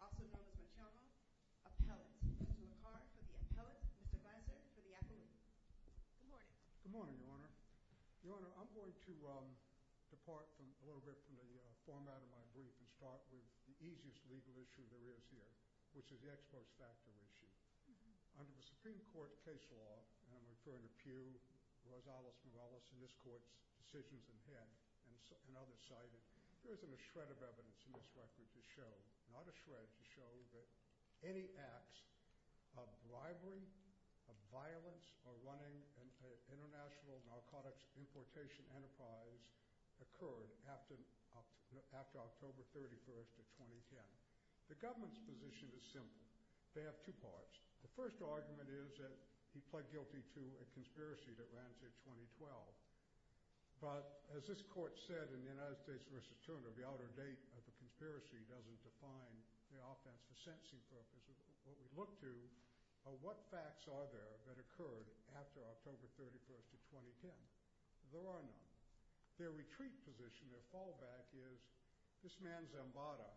also known as Machama, Appellant. Mr. Picard for the Appellant, Mr. Weiser for the Appellant. Good morning. Good morning, Your Honor. Your Honor, I'm going to depart a little bit from the format of my brief and start with the easiest legal issue there is here, which is the exports factor issue. Under the Supreme Court case law, and I'm referring to Pew, Rosales-Morales in this court's decisions in head and others cited, there isn't a shred of evidence in this record to show, not a shred, to show that any acts of bribery, of violence, or running an international narcotics importation enterprise occurred after October 31st of 2010. The government's position is simple. They have two parts. The first argument is that he pled guilty to a conspiracy that ran till 2012. But as this court said in the United States v. Turner, the outer date of the conspiracy doesn't define the offense for sentencing purposes. What we look to are what facts are there that occurred after October 31st of 2010. There are none. Their retreat position, their fallback, is this man Zambada,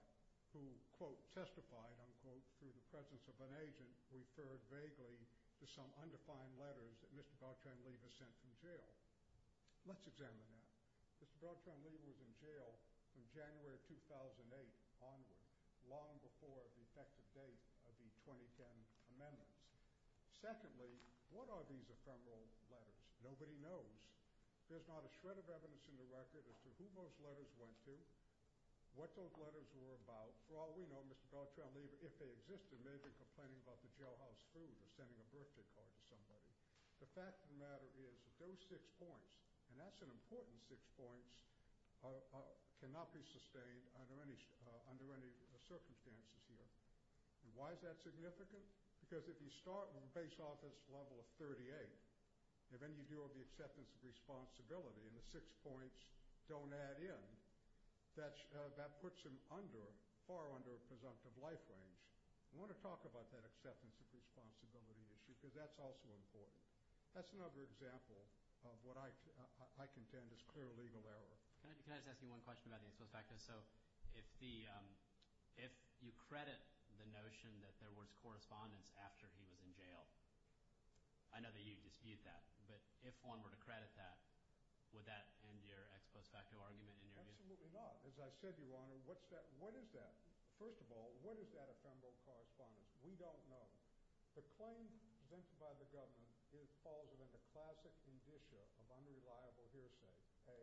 who, quote, testified, unquote, through the presence of an agent, referred vaguely to some undefined letters that Mr. Beltran-Lever sent from jail. Let's examine that. Mr. Beltran-Lever was in jail from January 2008 onward, long before the effective date of the 2010 amendments. Secondly, what are these ephemeral letters? Nobody knows. There's not a shred of evidence in the record as to who those letters went to, what those letters were about. For all we know, Mr. Beltran-Lever, if they existed, may have been complaining about the jailhouse food or sending a birthday card to somebody. The fact of the matter is that those six points, and that's an important six points, cannot be sustained under any circumstances here. Why is that significant? Because if you start with a base office level of 38, and then you have the acceptance of responsibility, and the six points don't add in, that puts him under, far under, a presumptive life range. I want to talk about that acceptance of responsibility issue because that's also important. That's another example of what I contend is clear legal error. Can I just ask you one question about the expose factor? So if you credit the notion that there would that end your expose factor argument in your view? Absolutely not. As I said, Your Honor, what is that? First of all, what is that ephemeral correspondence? We don't know. The claim presented by the government falls within the classic indicia of unreliable hearsay. A,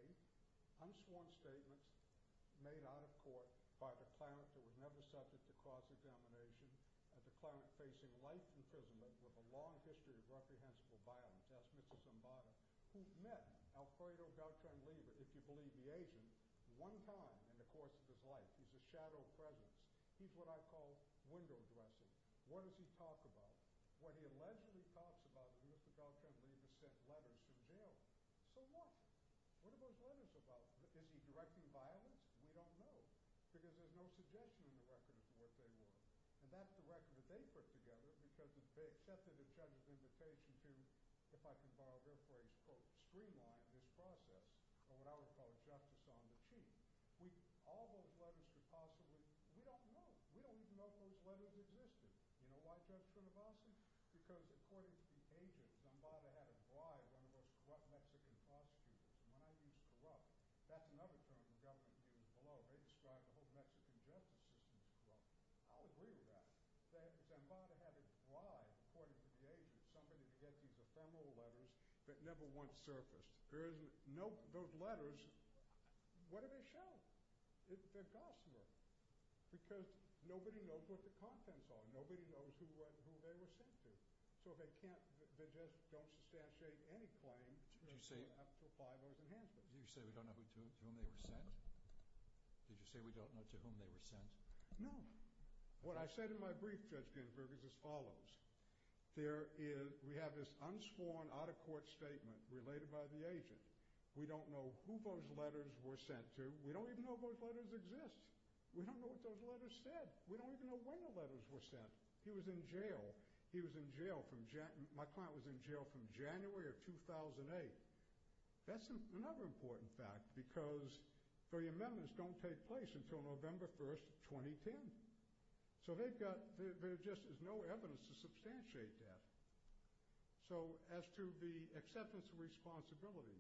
unsworn statements made out of court by the cleric that was never subject to cross-examination, at the cleric facing life imprisonment with a long history of reprehensible violence. Ask Mr. Zambada, who met Alfredo Beltran-Libre, if you believe the agent, one time in the course of his life. He's a shadow presence. He's what I call window dressing. What does he talk about? What he allegedly talks about is Mr. Beltran-Libre sent letters from jail. So what? What are those letters about? Is he directing violence? We don't know. Because there's no suggestion in the record as to what they were. And that's the record that they put together because they accepted the judge's invitation to, if I can borrow their phrase, quote, streamline this process, or what I would call justice on the cheap. All those letters could possibly – we don't know. We don't even know if those letters existed. You know why Judge Trinovasi? Because according to the agent, Zambada had a bribe on the most corrupt Mexican prosecutor. When I use corrupt, that's another term the government uses below. They describe the whole Mexican justice system as corrupt. I'll agree with that. Zambada had a bribe, according to the agent, somebody to get these ephemeral letters that never once surfaced. There is no – those letters, what do they show? They're gossamer. Because nobody knows what the contents are. Nobody knows who they were sent to. So they can't – they just don't substantiate any claim up to five hours in hand. Did you say we don't know to whom they were sent? Did you say we don't know to whom they were sent? No. What I said in my brief, Judge Ginsburg, is as follows. There is – we have this unsworn, out-of-court statement related by the agent. We don't know who those letters were sent to. We don't even know if those letters exist. We don't know what those letters said. We don't even know when the letters were sent. He was in jail. He was in jail from – my client was in jail from January of 2008. That's another important fact, because the amendments don't take place until November 1st, 2010. So they've got – there just is no evidence to substantiate that. So as to the acceptance of responsibility,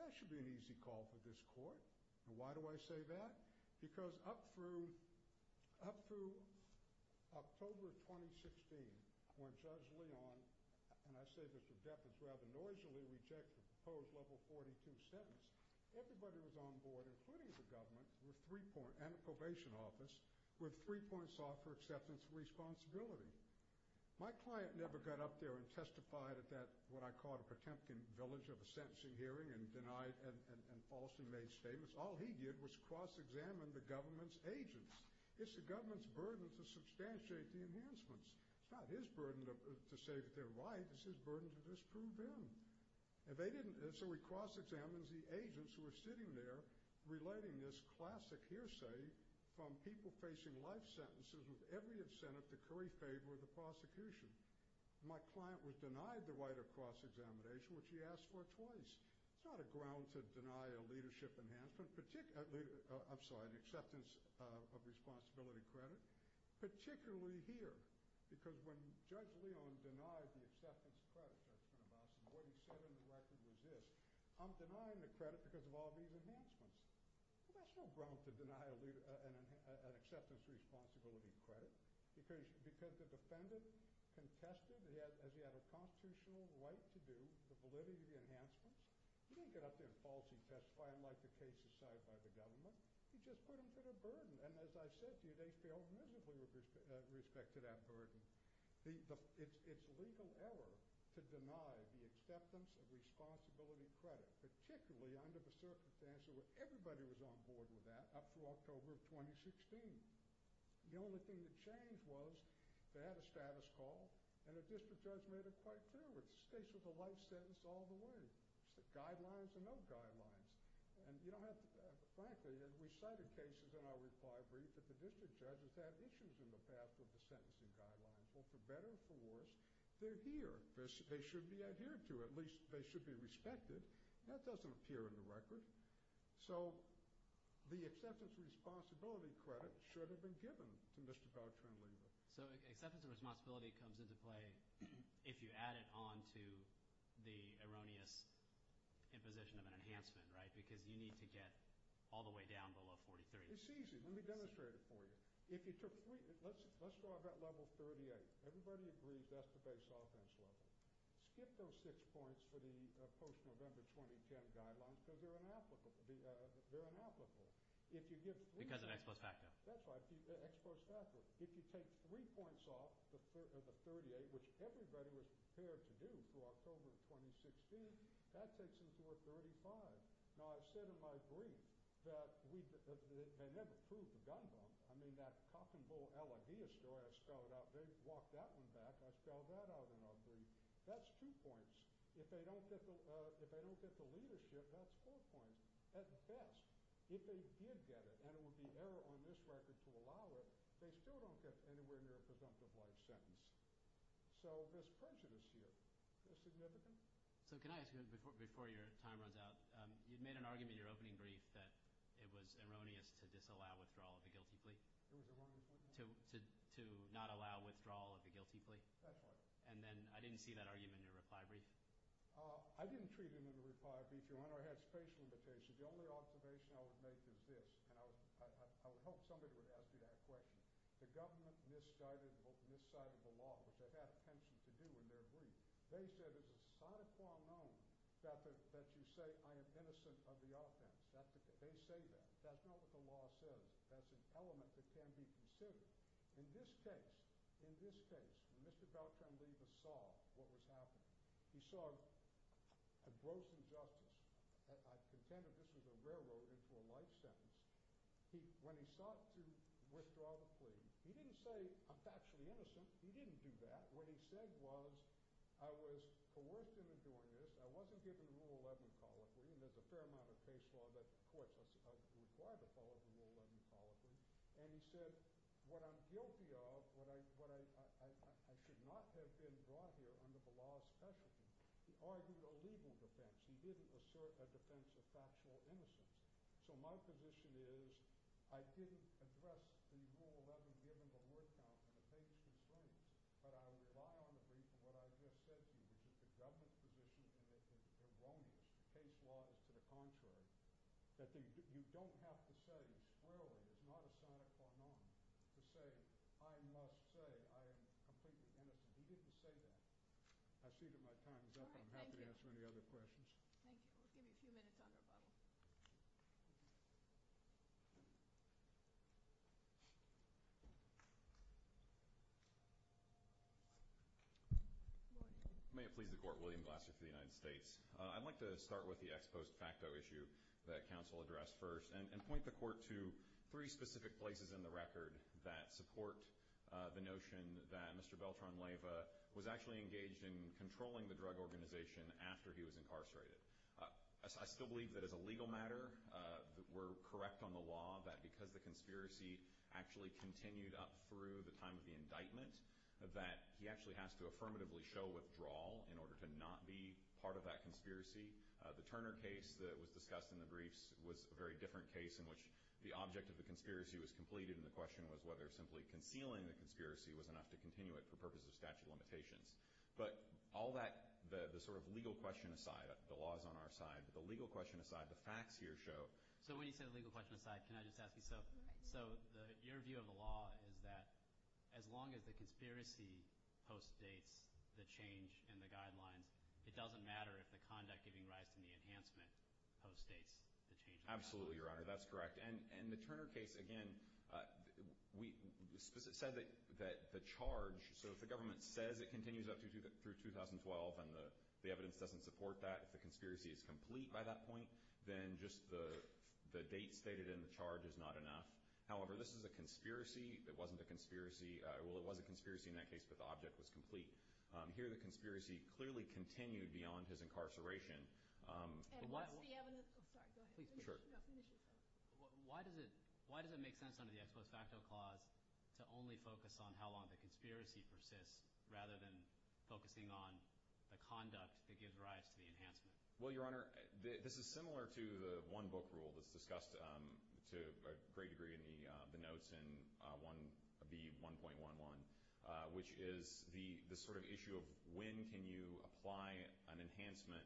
that should be an easy call for this Court. And why do I say that? Because up through October of 2016, when Judge Leon – and I say Mr. Depp – has rather noisily rejected the proposed Level 42 sentence, everybody who was on board, including the government and the probation office, were three points off for acceptance of responsibility. My client never got up there and testified at that, what I call, a Potemkin village of a sentencing hearing and denied and falsely made statements. All he did was cross-examine the government's agents. It's the government's burden to substantiate the enhancements. It's not his burden to say that they're right. It's his burden to disprove them. And they didn't – so he cross-examines the agents who are sitting there relating this classic hearsay from people facing life sentences with every incentive to curry favor with the prosecution. My client was denied the right of cross-examination, which he asked for twice. It's not a ground to deny a leadership enhancement, particularly – I'm sorry, an acceptance of responsibility credit, particularly here. Because when Judge Leon denied the acceptance of credit judgment of us, and what he said in the record was this, I'm denying the credit because of all these enhancements. That's no ground to deny an acceptance of responsibility credit, because the defendant contested, as he had a constitutional right to do, the validity of the enhancements. He didn't get up there and falsely testify, unlike the cases cited by the government. He just put them through the burden. And as I said to you, they failed miserably with respect to that burden. It's legal error to deny the acceptance of responsibility credit, particularly under the circumstances where everybody was on board with that up through October of 2016. The only thing that changed was they had a status call, and the district judge made it quite clear. It stays with the life sentence all the way. It's the guidelines and no guidelines. And you don't have to – frankly, we cited cases in our reply brief that the district judges had issues in the past with the sentencing guidelines. Well, for better or for worse, they're here. They should be adhered to. At least they should be respected. That doesn't appear in the record. So the acceptance of responsibility credit should have been given to Mr. Valtrin-Leva. So acceptance of responsibility comes into play if you add it on to the erroneous imposition of an enhancement, right? Because you need to get all the way down below 43. It's easy. Let me demonstrate it for you. If you took – let's draw that level 38. Everybody agrees that's the base offense level. Skip those six points for the post-November 2010 guidelines because they're inapplicable. They're inapplicable. If you give three – Because of ex post facto. That's right, ex post facto. If you take three points off the 38, which everybody was prepared to do through October of 2016, that takes them to a 35. Now, I've said in my brief that we – they never proved the gun bump. I mean, that cock and bull LIDA story, I spelled it out. They walked that one back. I spelled that out in our brief. That's two points. If they don't get the leadership, that's four points at best. If they did get it, and it would be error on this record to allow it, they still don't get anywhere near a presumptive life sentence. So this prejudice here is significant. So can I ask you, before your time runs out, you made an argument in your opening brief that it was erroneous to disallow withdrawal of a guilty plea. It was erroneous what? To not allow withdrawal of a guilty plea. That's right. And then I didn't see that argument in your reply brief. I didn't treat him in a reply brief, Your Honor. I had space limitations. The only observation I would make is this, and I would hope somebody would ask me that question. The government misguided this side of the law, which they had a penchant to do in their brief. They said it's a sine qua non that you say I am innocent of the offense. They say that. That's not what the law says. That's an element that can be considered. In this case, in this case, Mr. Balcon-Leva saw what was happening. He saw a gross injustice. I contend that this was a railroad into a life sentence. When he sought to withdraw the plea, he didn't say I'm factually innocent. He didn't do that. What he said was I was coerced into doing this. I wasn't given a Rule 11 colloquy, and there's a fair amount of case law that courts are required to follow the Rule 11 colloquy. And he said what I'm guilty of, what I should not have been brought here under the law especially, he argued a legal defense. He didn't assert a defense of factual innocence. So my position is I didn't address the Rule 11 given the word count and the case constraints, but I rely on the brief. And what I just said to you is that the government's position is erroneous. The case law is to the contrary, that you don't have to say squarely. It's not a sine qua non to say I must say I am completely innocent. He didn't say that. I see that my time is up. I'm happy to answer any other questions. Thank you. We'll give you a few minutes on rebuttal. May it please the Court, William Glasser for the United States. I'd like to start with the ex post facto issue that counsel addressed first and point the Court to three specific places in the record that support the notion that Mr. Beltran-Leyva was actually engaged in controlling the drug organization after he was incarcerated. I still believe that as a legal matter we're correct on the law that because the conspiracy actually continued up through the time of the indictment that he actually has to affirmatively show withdrawal in order to not be part of that conspiracy. The Turner case that was discussed in the briefs was a very different case in which the object of the conspiracy was completed and the question was whether simply concealing the conspiracy was enough to continue it for purposes of statute of limitations. But all that, the sort of legal question aside, the law is on our side, but the legal question aside, the facts here show. So when you say the legal question aside, can I just ask you, so your view of the law is that as long as the conspiracy postdates the change in the guidelines, it doesn't matter if the conduct giving rise to the enhancement postdates the change in the guidelines? Absolutely, Your Honor, that's correct. And the Turner case, again, we said that the charge, so if the government says it continues up through 2012 and the evidence doesn't support that, if the conspiracy is complete by that point, then just the date stated in the charge is not enough. However, this is a conspiracy. It wasn't a conspiracy. Well, it was a conspiracy in that case, but the object was complete. Here the conspiracy clearly continued beyond his incarceration. And what's the evidence? I'm sorry, go ahead. Sure. Why does it make sense under the ex post facto clause to only focus on how long the conspiracy persists rather than focusing on the conduct that gives rise to the enhancement? Well, Your Honor, this is similar to the one book rule that's discussed to a great degree in the notes in B.1.11, which is the sort of issue of when can you apply an enhancement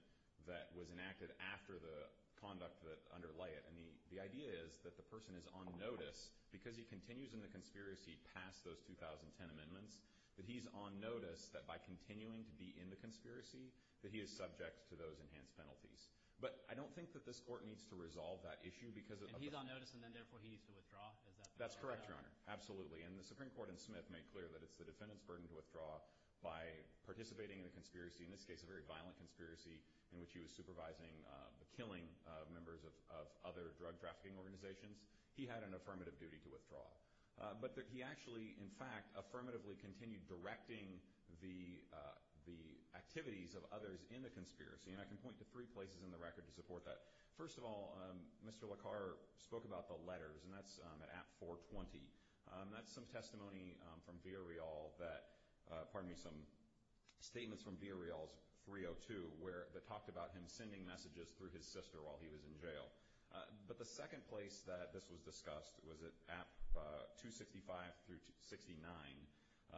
that was enacted after the conduct that underlay it. And the idea is that the person is on notice, because he continues in the conspiracy past those 2010 amendments, that he's on notice that by continuing to be in the conspiracy, that he is subject to those enhanced penalties. But I don't think that this Court needs to resolve that issue. And he's on notice, and then therefore he needs to withdraw? That's correct, Your Honor, absolutely. And the Supreme Court in Smith made clear that it's the defendant's burden to withdraw by participating in a conspiracy, in this case a very violent conspiracy, in which he was supervising the killing of members of other drug trafficking organizations. He had an affirmative duty to withdraw. But he actually, in fact, affirmatively continued directing the activities of others in the conspiracy. And I can point to three places in the record to support that. First of all, Mr. LaCarre spoke about the letters, and that's at App 420. That's some testimony from Villarreal that, pardon me, some statements from Villarreal's 302 that talked about him sending messages through his sister while he was in jail. But the second place that this was discussed was at App 265 through 69.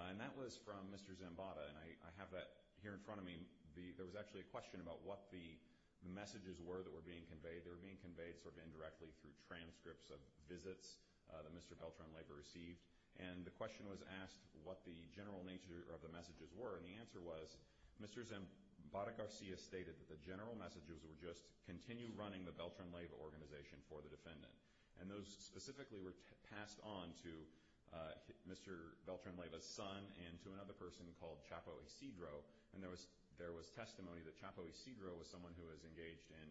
And that was from Mr. Zambada, and I have that here in front of me. There was actually a question about what the messages were that were being conveyed. They were being conveyed sort of indirectly through transcripts of visits that Mr. Beltran-Leyva received. And the question was asked what the general nature of the messages were, and the answer was Mr. Zambada-Garcia stated that the general messages were just continue running the Beltran-Leyva organization for the defendant. And those specifically were passed on to Mr. Beltran-Leyva's son and to another person called Chapo Isidro. And there was testimony that Chapo Isidro was someone who was engaged in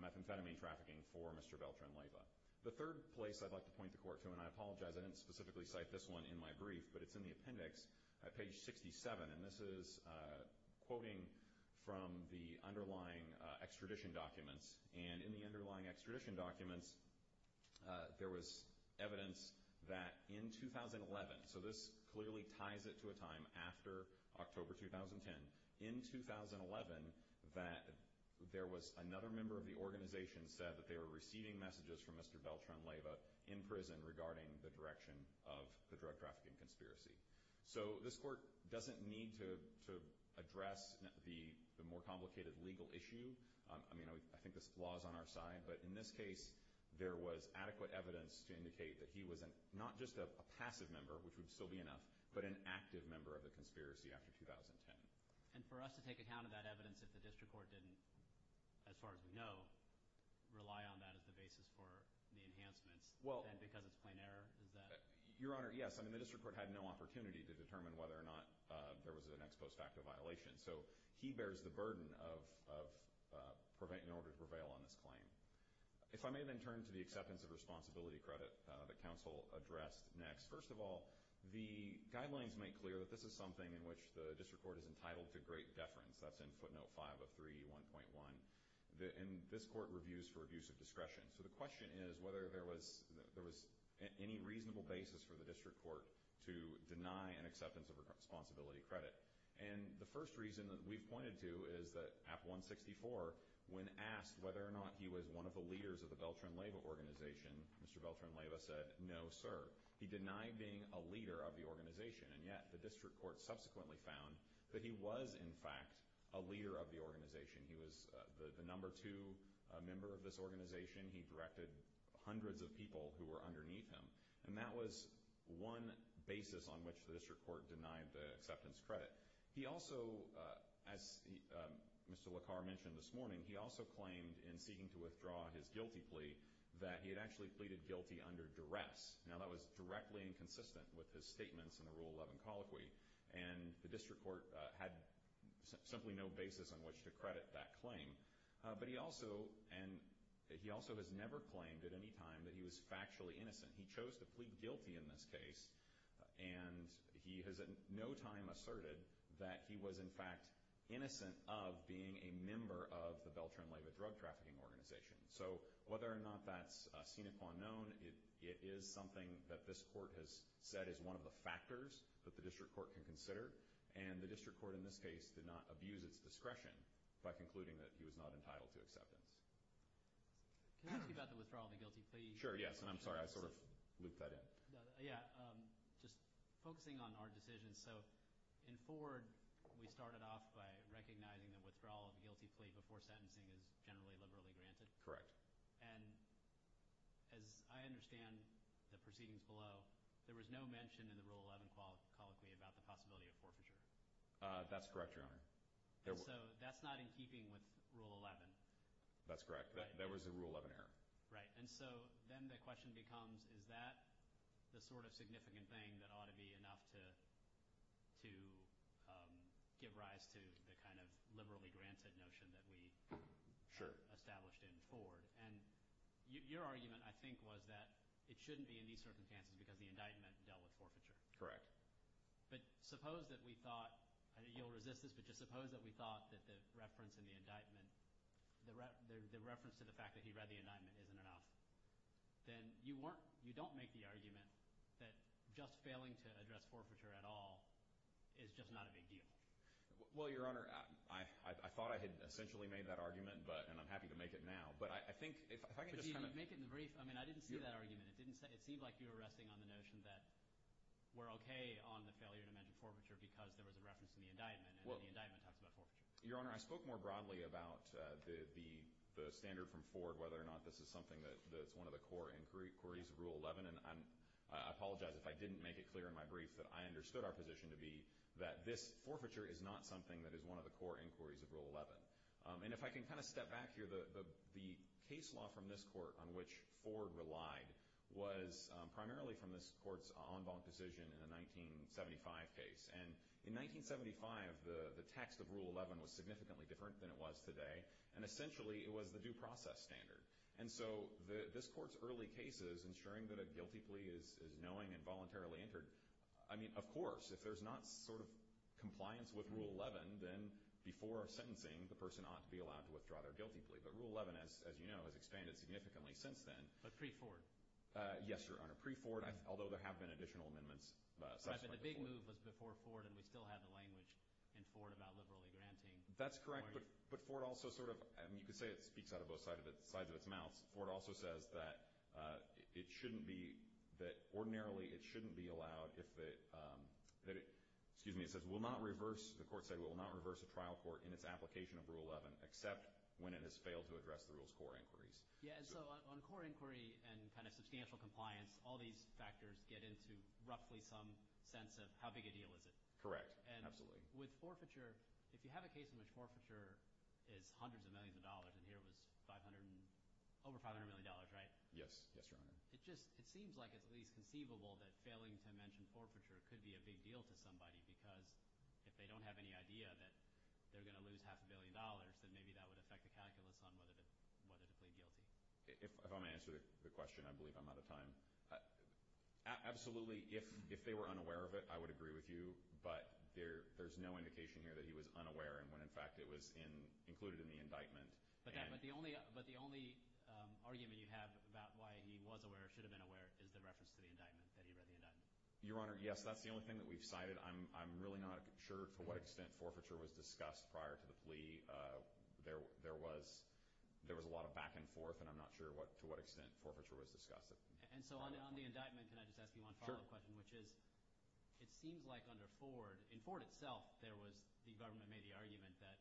methamphetamine trafficking for Mr. Beltran-Leyva. The third place I'd like to point the court to, and I apologize, I didn't specifically cite this one in my brief, but it's in the appendix at page 67, and this is quoting from the underlying extradition documents. And in the underlying extradition documents, there was evidence that in 2011, so this clearly ties it to a time after October 2010, in 2011, that there was another member of the organization said that they were receiving messages from Mr. Beltran-Leyva in prison regarding the direction of the drug trafficking conspiracy. So this court doesn't need to address the more complicated legal issue. I mean, I think this law is on our side. But in this case, there was adequate evidence to indicate that he was not just a passive member, which would still be enough, but an active member of the conspiracy after 2010. And for us to take account of that evidence if the district court didn't, as far as we know, rely on that as the basis for the enhancements and because it's plain error, is that? Your Honor, yes. I mean, the district court had no opportunity to determine whether or not there was an ex post facto violation. So he bears the burden in order to prevail on this claim. If I may then turn to the acceptance of responsibility credit that counsel addressed next. First of all, the guidelines make clear that this is something in which the district court is entitled to great deference. That's in footnote 5 of 3E1.1. And this court reviews for abuse of discretion. So the question is whether there was any reasonable basis for the district court to deny an acceptance of responsibility credit. And the first reason that we've pointed to is that AP 164, when asked whether or not he was one of the leaders of the Beltran-Leyva organization, Mr. Beltran-Leyva said, no, sir. He denied being a leader of the organization. And yet the district court subsequently found that he was, in fact, a leader of the organization. He was the number two member of this organization. He directed hundreds of people who were underneath him. And that was one basis on which the district court denied the acceptance credit. He also, as Mr. LaCar mentioned this morning, he also claimed in seeking to withdraw his guilty plea that he had actually pleaded guilty under duress. Now, that was directly inconsistent with his statements in the Rule 11 colloquy. And the district court had simply no basis on which to credit that claim. But he also has never claimed at any time that he was factually innocent. He chose to plead guilty in this case. And he has at no time asserted that he was, in fact, innocent of being a member of the Beltran-Leyva drug trafficking organization. So whether or not that's seen upon known, it is something that this court has said is one of the factors that the district court can consider. And the district court in this case did not abuse its discretion by concluding that he was not entitled to acceptance. Can I ask you about the withdrawal of the guilty plea? Sure, yes. And I'm sorry, I sort of looped that in. Yeah, just focusing on our decision. So in Ford, we started off by recognizing the withdrawal of the guilty plea before sentencing is generally liberally granted. Correct. And as I understand the proceedings below, there was no mention in the Rule 11 colloquy about the possibility of forfeiture. That's correct, Your Honor. So that's not in keeping with Rule 11. That's correct. That was a Rule 11 error. Right, and so then the question becomes, is that the sort of significant thing that ought to be enough to give rise to the kind of liberally granted notion that we established in Ford? And your argument, I think, was that it shouldn't be in these circumstances because the indictment dealt with forfeiture. Correct. But suppose that we thought – I know you'll resist this, but just suppose that we thought that the reference in the indictment – the reference to the fact that he read the indictment isn't enough. Then you weren't – you don't make the argument that just failing to address forfeiture at all is just not a big deal. Well, Your Honor, I thought I had essentially made that argument, and I'm happy to make it now. But I think if I can just kind of – No, make it in the brief. I mean, I didn't see that argument. It seemed like you were resting on the notion that we're okay on the failure to mention forfeiture because there was a reference in the indictment, and the indictment talks about forfeiture. Your Honor, I spoke more broadly about the standard from Ford, whether or not this is something that's one of the core inquiries of Rule 11. And I apologize if I didn't make it clear in my brief that I understood our position to be that this forfeiture is not something that is one of the core inquiries of Rule 11. And if I can kind of step back here, the case law from this court on which Ford relied was primarily from this court's en banc decision in the 1975 case. And in 1975, the text of Rule 11 was significantly different than it was today, and essentially it was the due process standard. And so this court's early cases, ensuring that a guilty plea is knowing and voluntarily entered – I mean, of course, if there's not sort of compliance with Rule 11, then before sentencing, the person ought to be allowed to withdraw their guilty plea. But Rule 11, as you know, has expanded significantly since then. But pre-Ford. Yes, Your Honor. Pre-Ford, although there have been additional amendments. The big move was before Ford, and we still have the language in Ford about liberally granting. That's correct. But Ford also sort of – I mean, you could say it speaks out of both sides of its mouth. Ford also says that it shouldn't be – that ordinarily it shouldn't be allowed if it – excuse me, it says will not reverse – the court said it will not reverse a trial court in its application of Rule 11 except when it has failed to address the rule's core inquiries. Yeah, and so on core inquiry and kind of substantial compliance, all these factors get into roughly some sense of how big a deal is it. Correct. Absolutely. With forfeiture, if you have a case in which forfeiture is hundreds of millions of dollars, and here it was 500 – over $500 million, right? Yes. Yes, Your Honor. It just – it seems like it's at least conceivable that failing to mention forfeiture could be a big deal to somebody because if they don't have any idea that they're going to lose half a billion dollars, then maybe that would affect the calculus on whether to plead guilty. If I'm going to answer the question, I believe I'm out of time. Absolutely. If they were unaware of it, I would agree with you, but there's no indication here that he was unaware and when, in fact, it was included in the indictment. But the only argument you have about why he was aware or should have been aware is the reference to the indictment, that he read the indictment. Your Honor, yes, that's the only thing that we've cited. I'm really not sure to what extent forfeiture was discussed prior to the plea. There was a lot of back and forth, and I'm not sure to what extent forfeiture was discussed. And so on the indictment, can I just ask you one follow-up question? Sure. Which is it seems like under Ford – in Ford itself, there was – the government made the argument that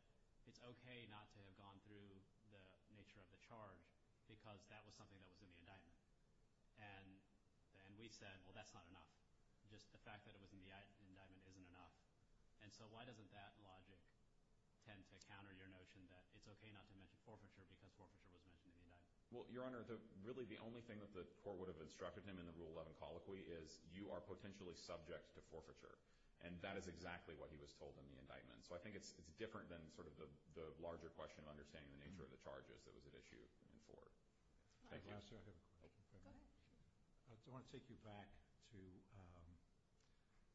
it's okay not to have gone through the nature of the charge because that was something that was in the indictment. And we said, well, that's not enough. Just the fact that it was in the indictment isn't enough. And so why doesn't that logic tend to counter your notion that it's okay not to mention forfeiture because forfeiture was mentioned in the indictment? Well, Your Honor, really the only thing that the court would have instructed him in the Rule 11 colloquy is you are potentially subject to forfeiture. And that is exactly what he was told in the indictment. So I think it's different than sort of the larger question of understanding the nature of the charges that was at issue in Ford. Thank you. I have a question. Go ahead. I want to take you back to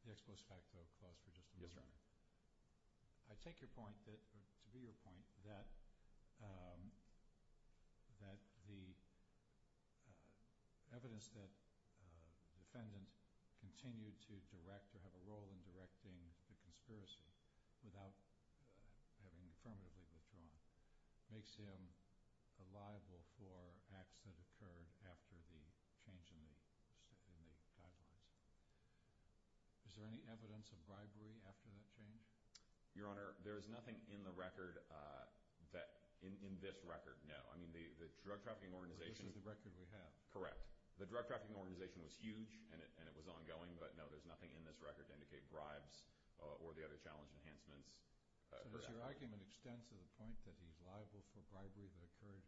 the expos facto clause for just a moment. Yes, Your Honor. I take your point that – to be your point that the evidence that the defendant continued to direct or have a role in directing the conspiracy without having affirmatively withdrawn makes him liable for acts that occurred after the change in the guidelines. Is there any evidence of bribery after that change? Your Honor, there is nothing in the record that – in this record, no. I mean, the drug trafficking organization – This is the record we have. Correct. The drug trafficking organization was huge and it was ongoing, but no, there's nothing in this record to indicate bribes or the other challenge enhancements. So does your argument extend to the point that he's liable for bribery that occurred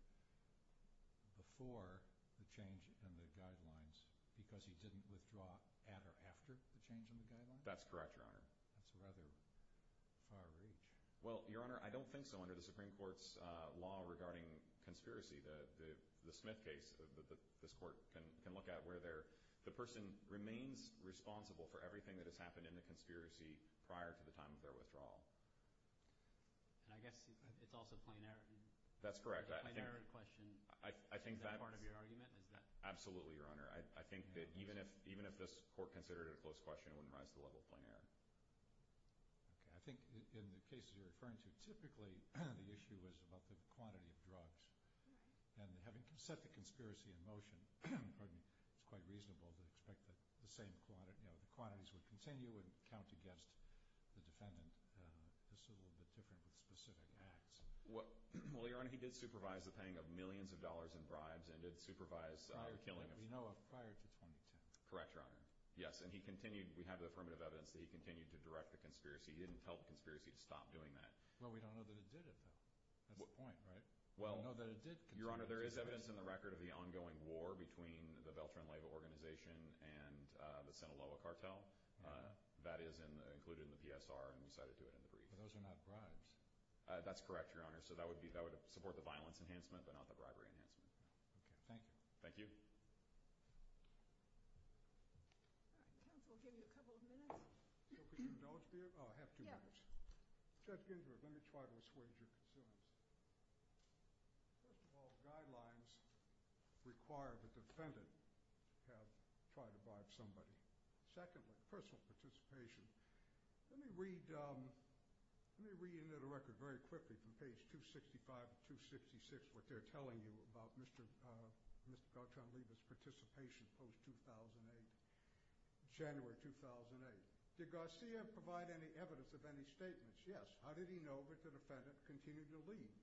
before the change in the guidelines because he didn't withdraw at or after the change in the guidelines? That's correct, Your Honor. That's a rather far reach. Well, Your Honor, I don't think so. Under the Supreme Court's law regarding conspiracy, the Smith case, this court can look at where the person remains responsible for everything that has happened in the conspiracy prior to the time of their withdrawal. And I guess it's also plain error. That's correct. Absolutely, Your Honor. I think that even if this court considered it a close question, it wouldn't rise to the level of plain error. Okay. I think in the cases you're referring to, typically the issue is about the quantity of drugs. And having set the conspiracy in motion, it's quite reasonable to expect that the quantities would continue and count against the defendant. This is a little bit different with specific acts. Well, Your Honor, he did supervise the paying of millions of dollars in bribes and did supervise the killing of – Correct, Your Honor. Yes, and he continued – we have the affirmative evidence that he continued to direct the conspiracy. He didn't tell the conspiracy to stop doing that. Well, we don't know that it did it, though. That's the point, right? Well – We know that it did continue to do it. Your Honor, there is evidence in the record of the ongoing war between the Veltran Leyva organization and the Sinaloa cartel. That is included in the PSR, and we cited to it in the brief. But those are not bribes. That's correct, Your Honor. So that would support the violence enhancement, but not the bribery enhancement. Okay. Thank you. Thank you. All right. Counsel will give you a couple of minutes. So if we can indulge here – oh, I have two minutes. Yes. Judge Ginsburg, let me try to assuage your concerns. First of all, guidelines require the defendant have tried to bribe somebody. Secondly, personal participation. Let me read into the record very quickly from page 265 to 266 what they're telling you about Mr. Beltran Leyva's participation post-2008, January 2008. Did Garcia provide any evidence of any statements? Yes. How did he know that the defendant continued to leave?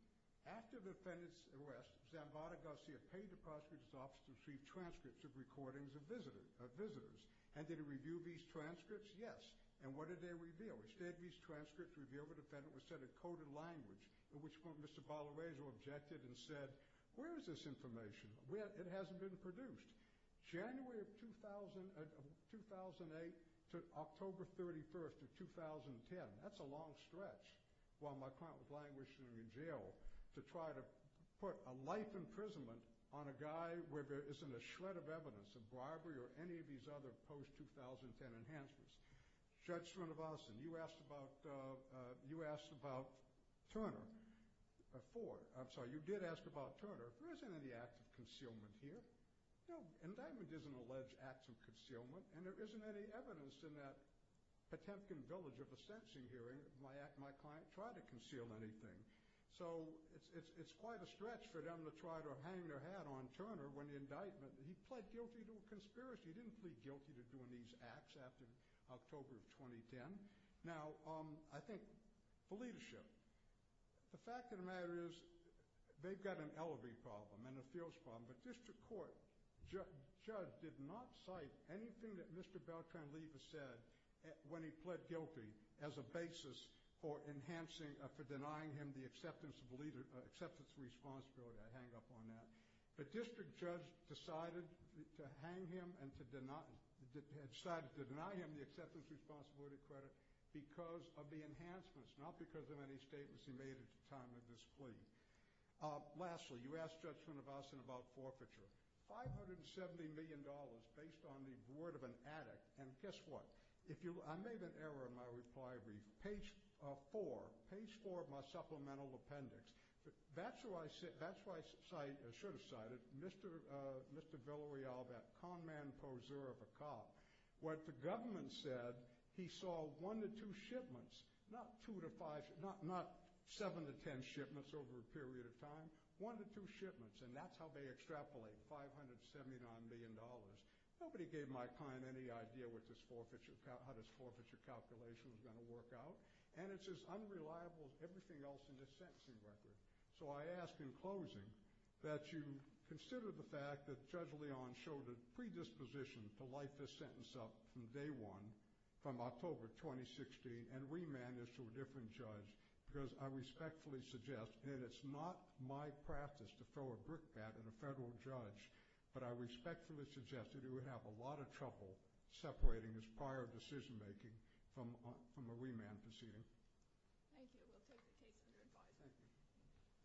After the defendant's arrest, Zambada Garcia paid the prosecutor's office to receive transcripts of recordings of visitors. And did he review these transcripts? Yes. And what did they reveal? Instead of these transcripts revealed, the defendant was said to have coded language, at which point Mr. Balarejo objected and said, where is this information? It hasn't been produced. January of 2008 to October 31st of 2010, that's a long stretch while my client was languishing in jail, to try to put a life imprisonment on a guy where there isn't a shred of evidence of bribery or any of these other post-2010 enhancements. Judge Srinivasan, you asked about Turner before. I'm sorry, you did ask about Turner. There isn't any act of concealment here. No, indictment doesn't allege acts of concealment, and there isn't any evidence in that Potemkin village of a sentencing hearing. My client tried to conceal anything. So it's quite a stretch for them to try to hang their hat on Turner when the indictment, he pled guilty to a conspiracy. He didn't plead guilty to doing these acts after October of 2010. Now, I think for leadership, the fact of the matter is they've got an LRE problem and a FEOS problem, but district court judge did not cite anything that Mr. Beltran-Livas said when he pled guilty as a basis for denying him the acceptance of responsibility. I hang up on that. But district judge decided to hang him and decided to deny him the acceptance of responsibility credit because of the enhancements, not because of any statements he made at the time of this plea. Lastly, you asked Judge Srinivasan about forfeiture. $570 million based on the word of an addict, and guess what? I made an error in my reply brief. Page 4, page 4 of my supplemental appendix, that's where I should have cited Mr. Villarreal, that con man poseur of a cop. What the government said, he saw 1 to 2 shipments, not 7 to 10 shipments over a period of time, 1 to 2 shipments, and that's how they extrapolate $579 million. Nobody gave my client any idea how this forfeiture calculation was going to work out, and it's as unreliable as everything else in this sentencing record. So I ask in closing that you consider the fact that Judge Leon showed a predisposition to light this sentence up from day one, from October 2016, and remand it to a different judge, because I respectfully suggest, and it's not my practice to throw a brick bat at a federal judge, but I respectfully suggest that he would have a lot of trouble separating his prior decision-making from a remand proceeding. Thank you. We'll take the case under advisory. Thank you.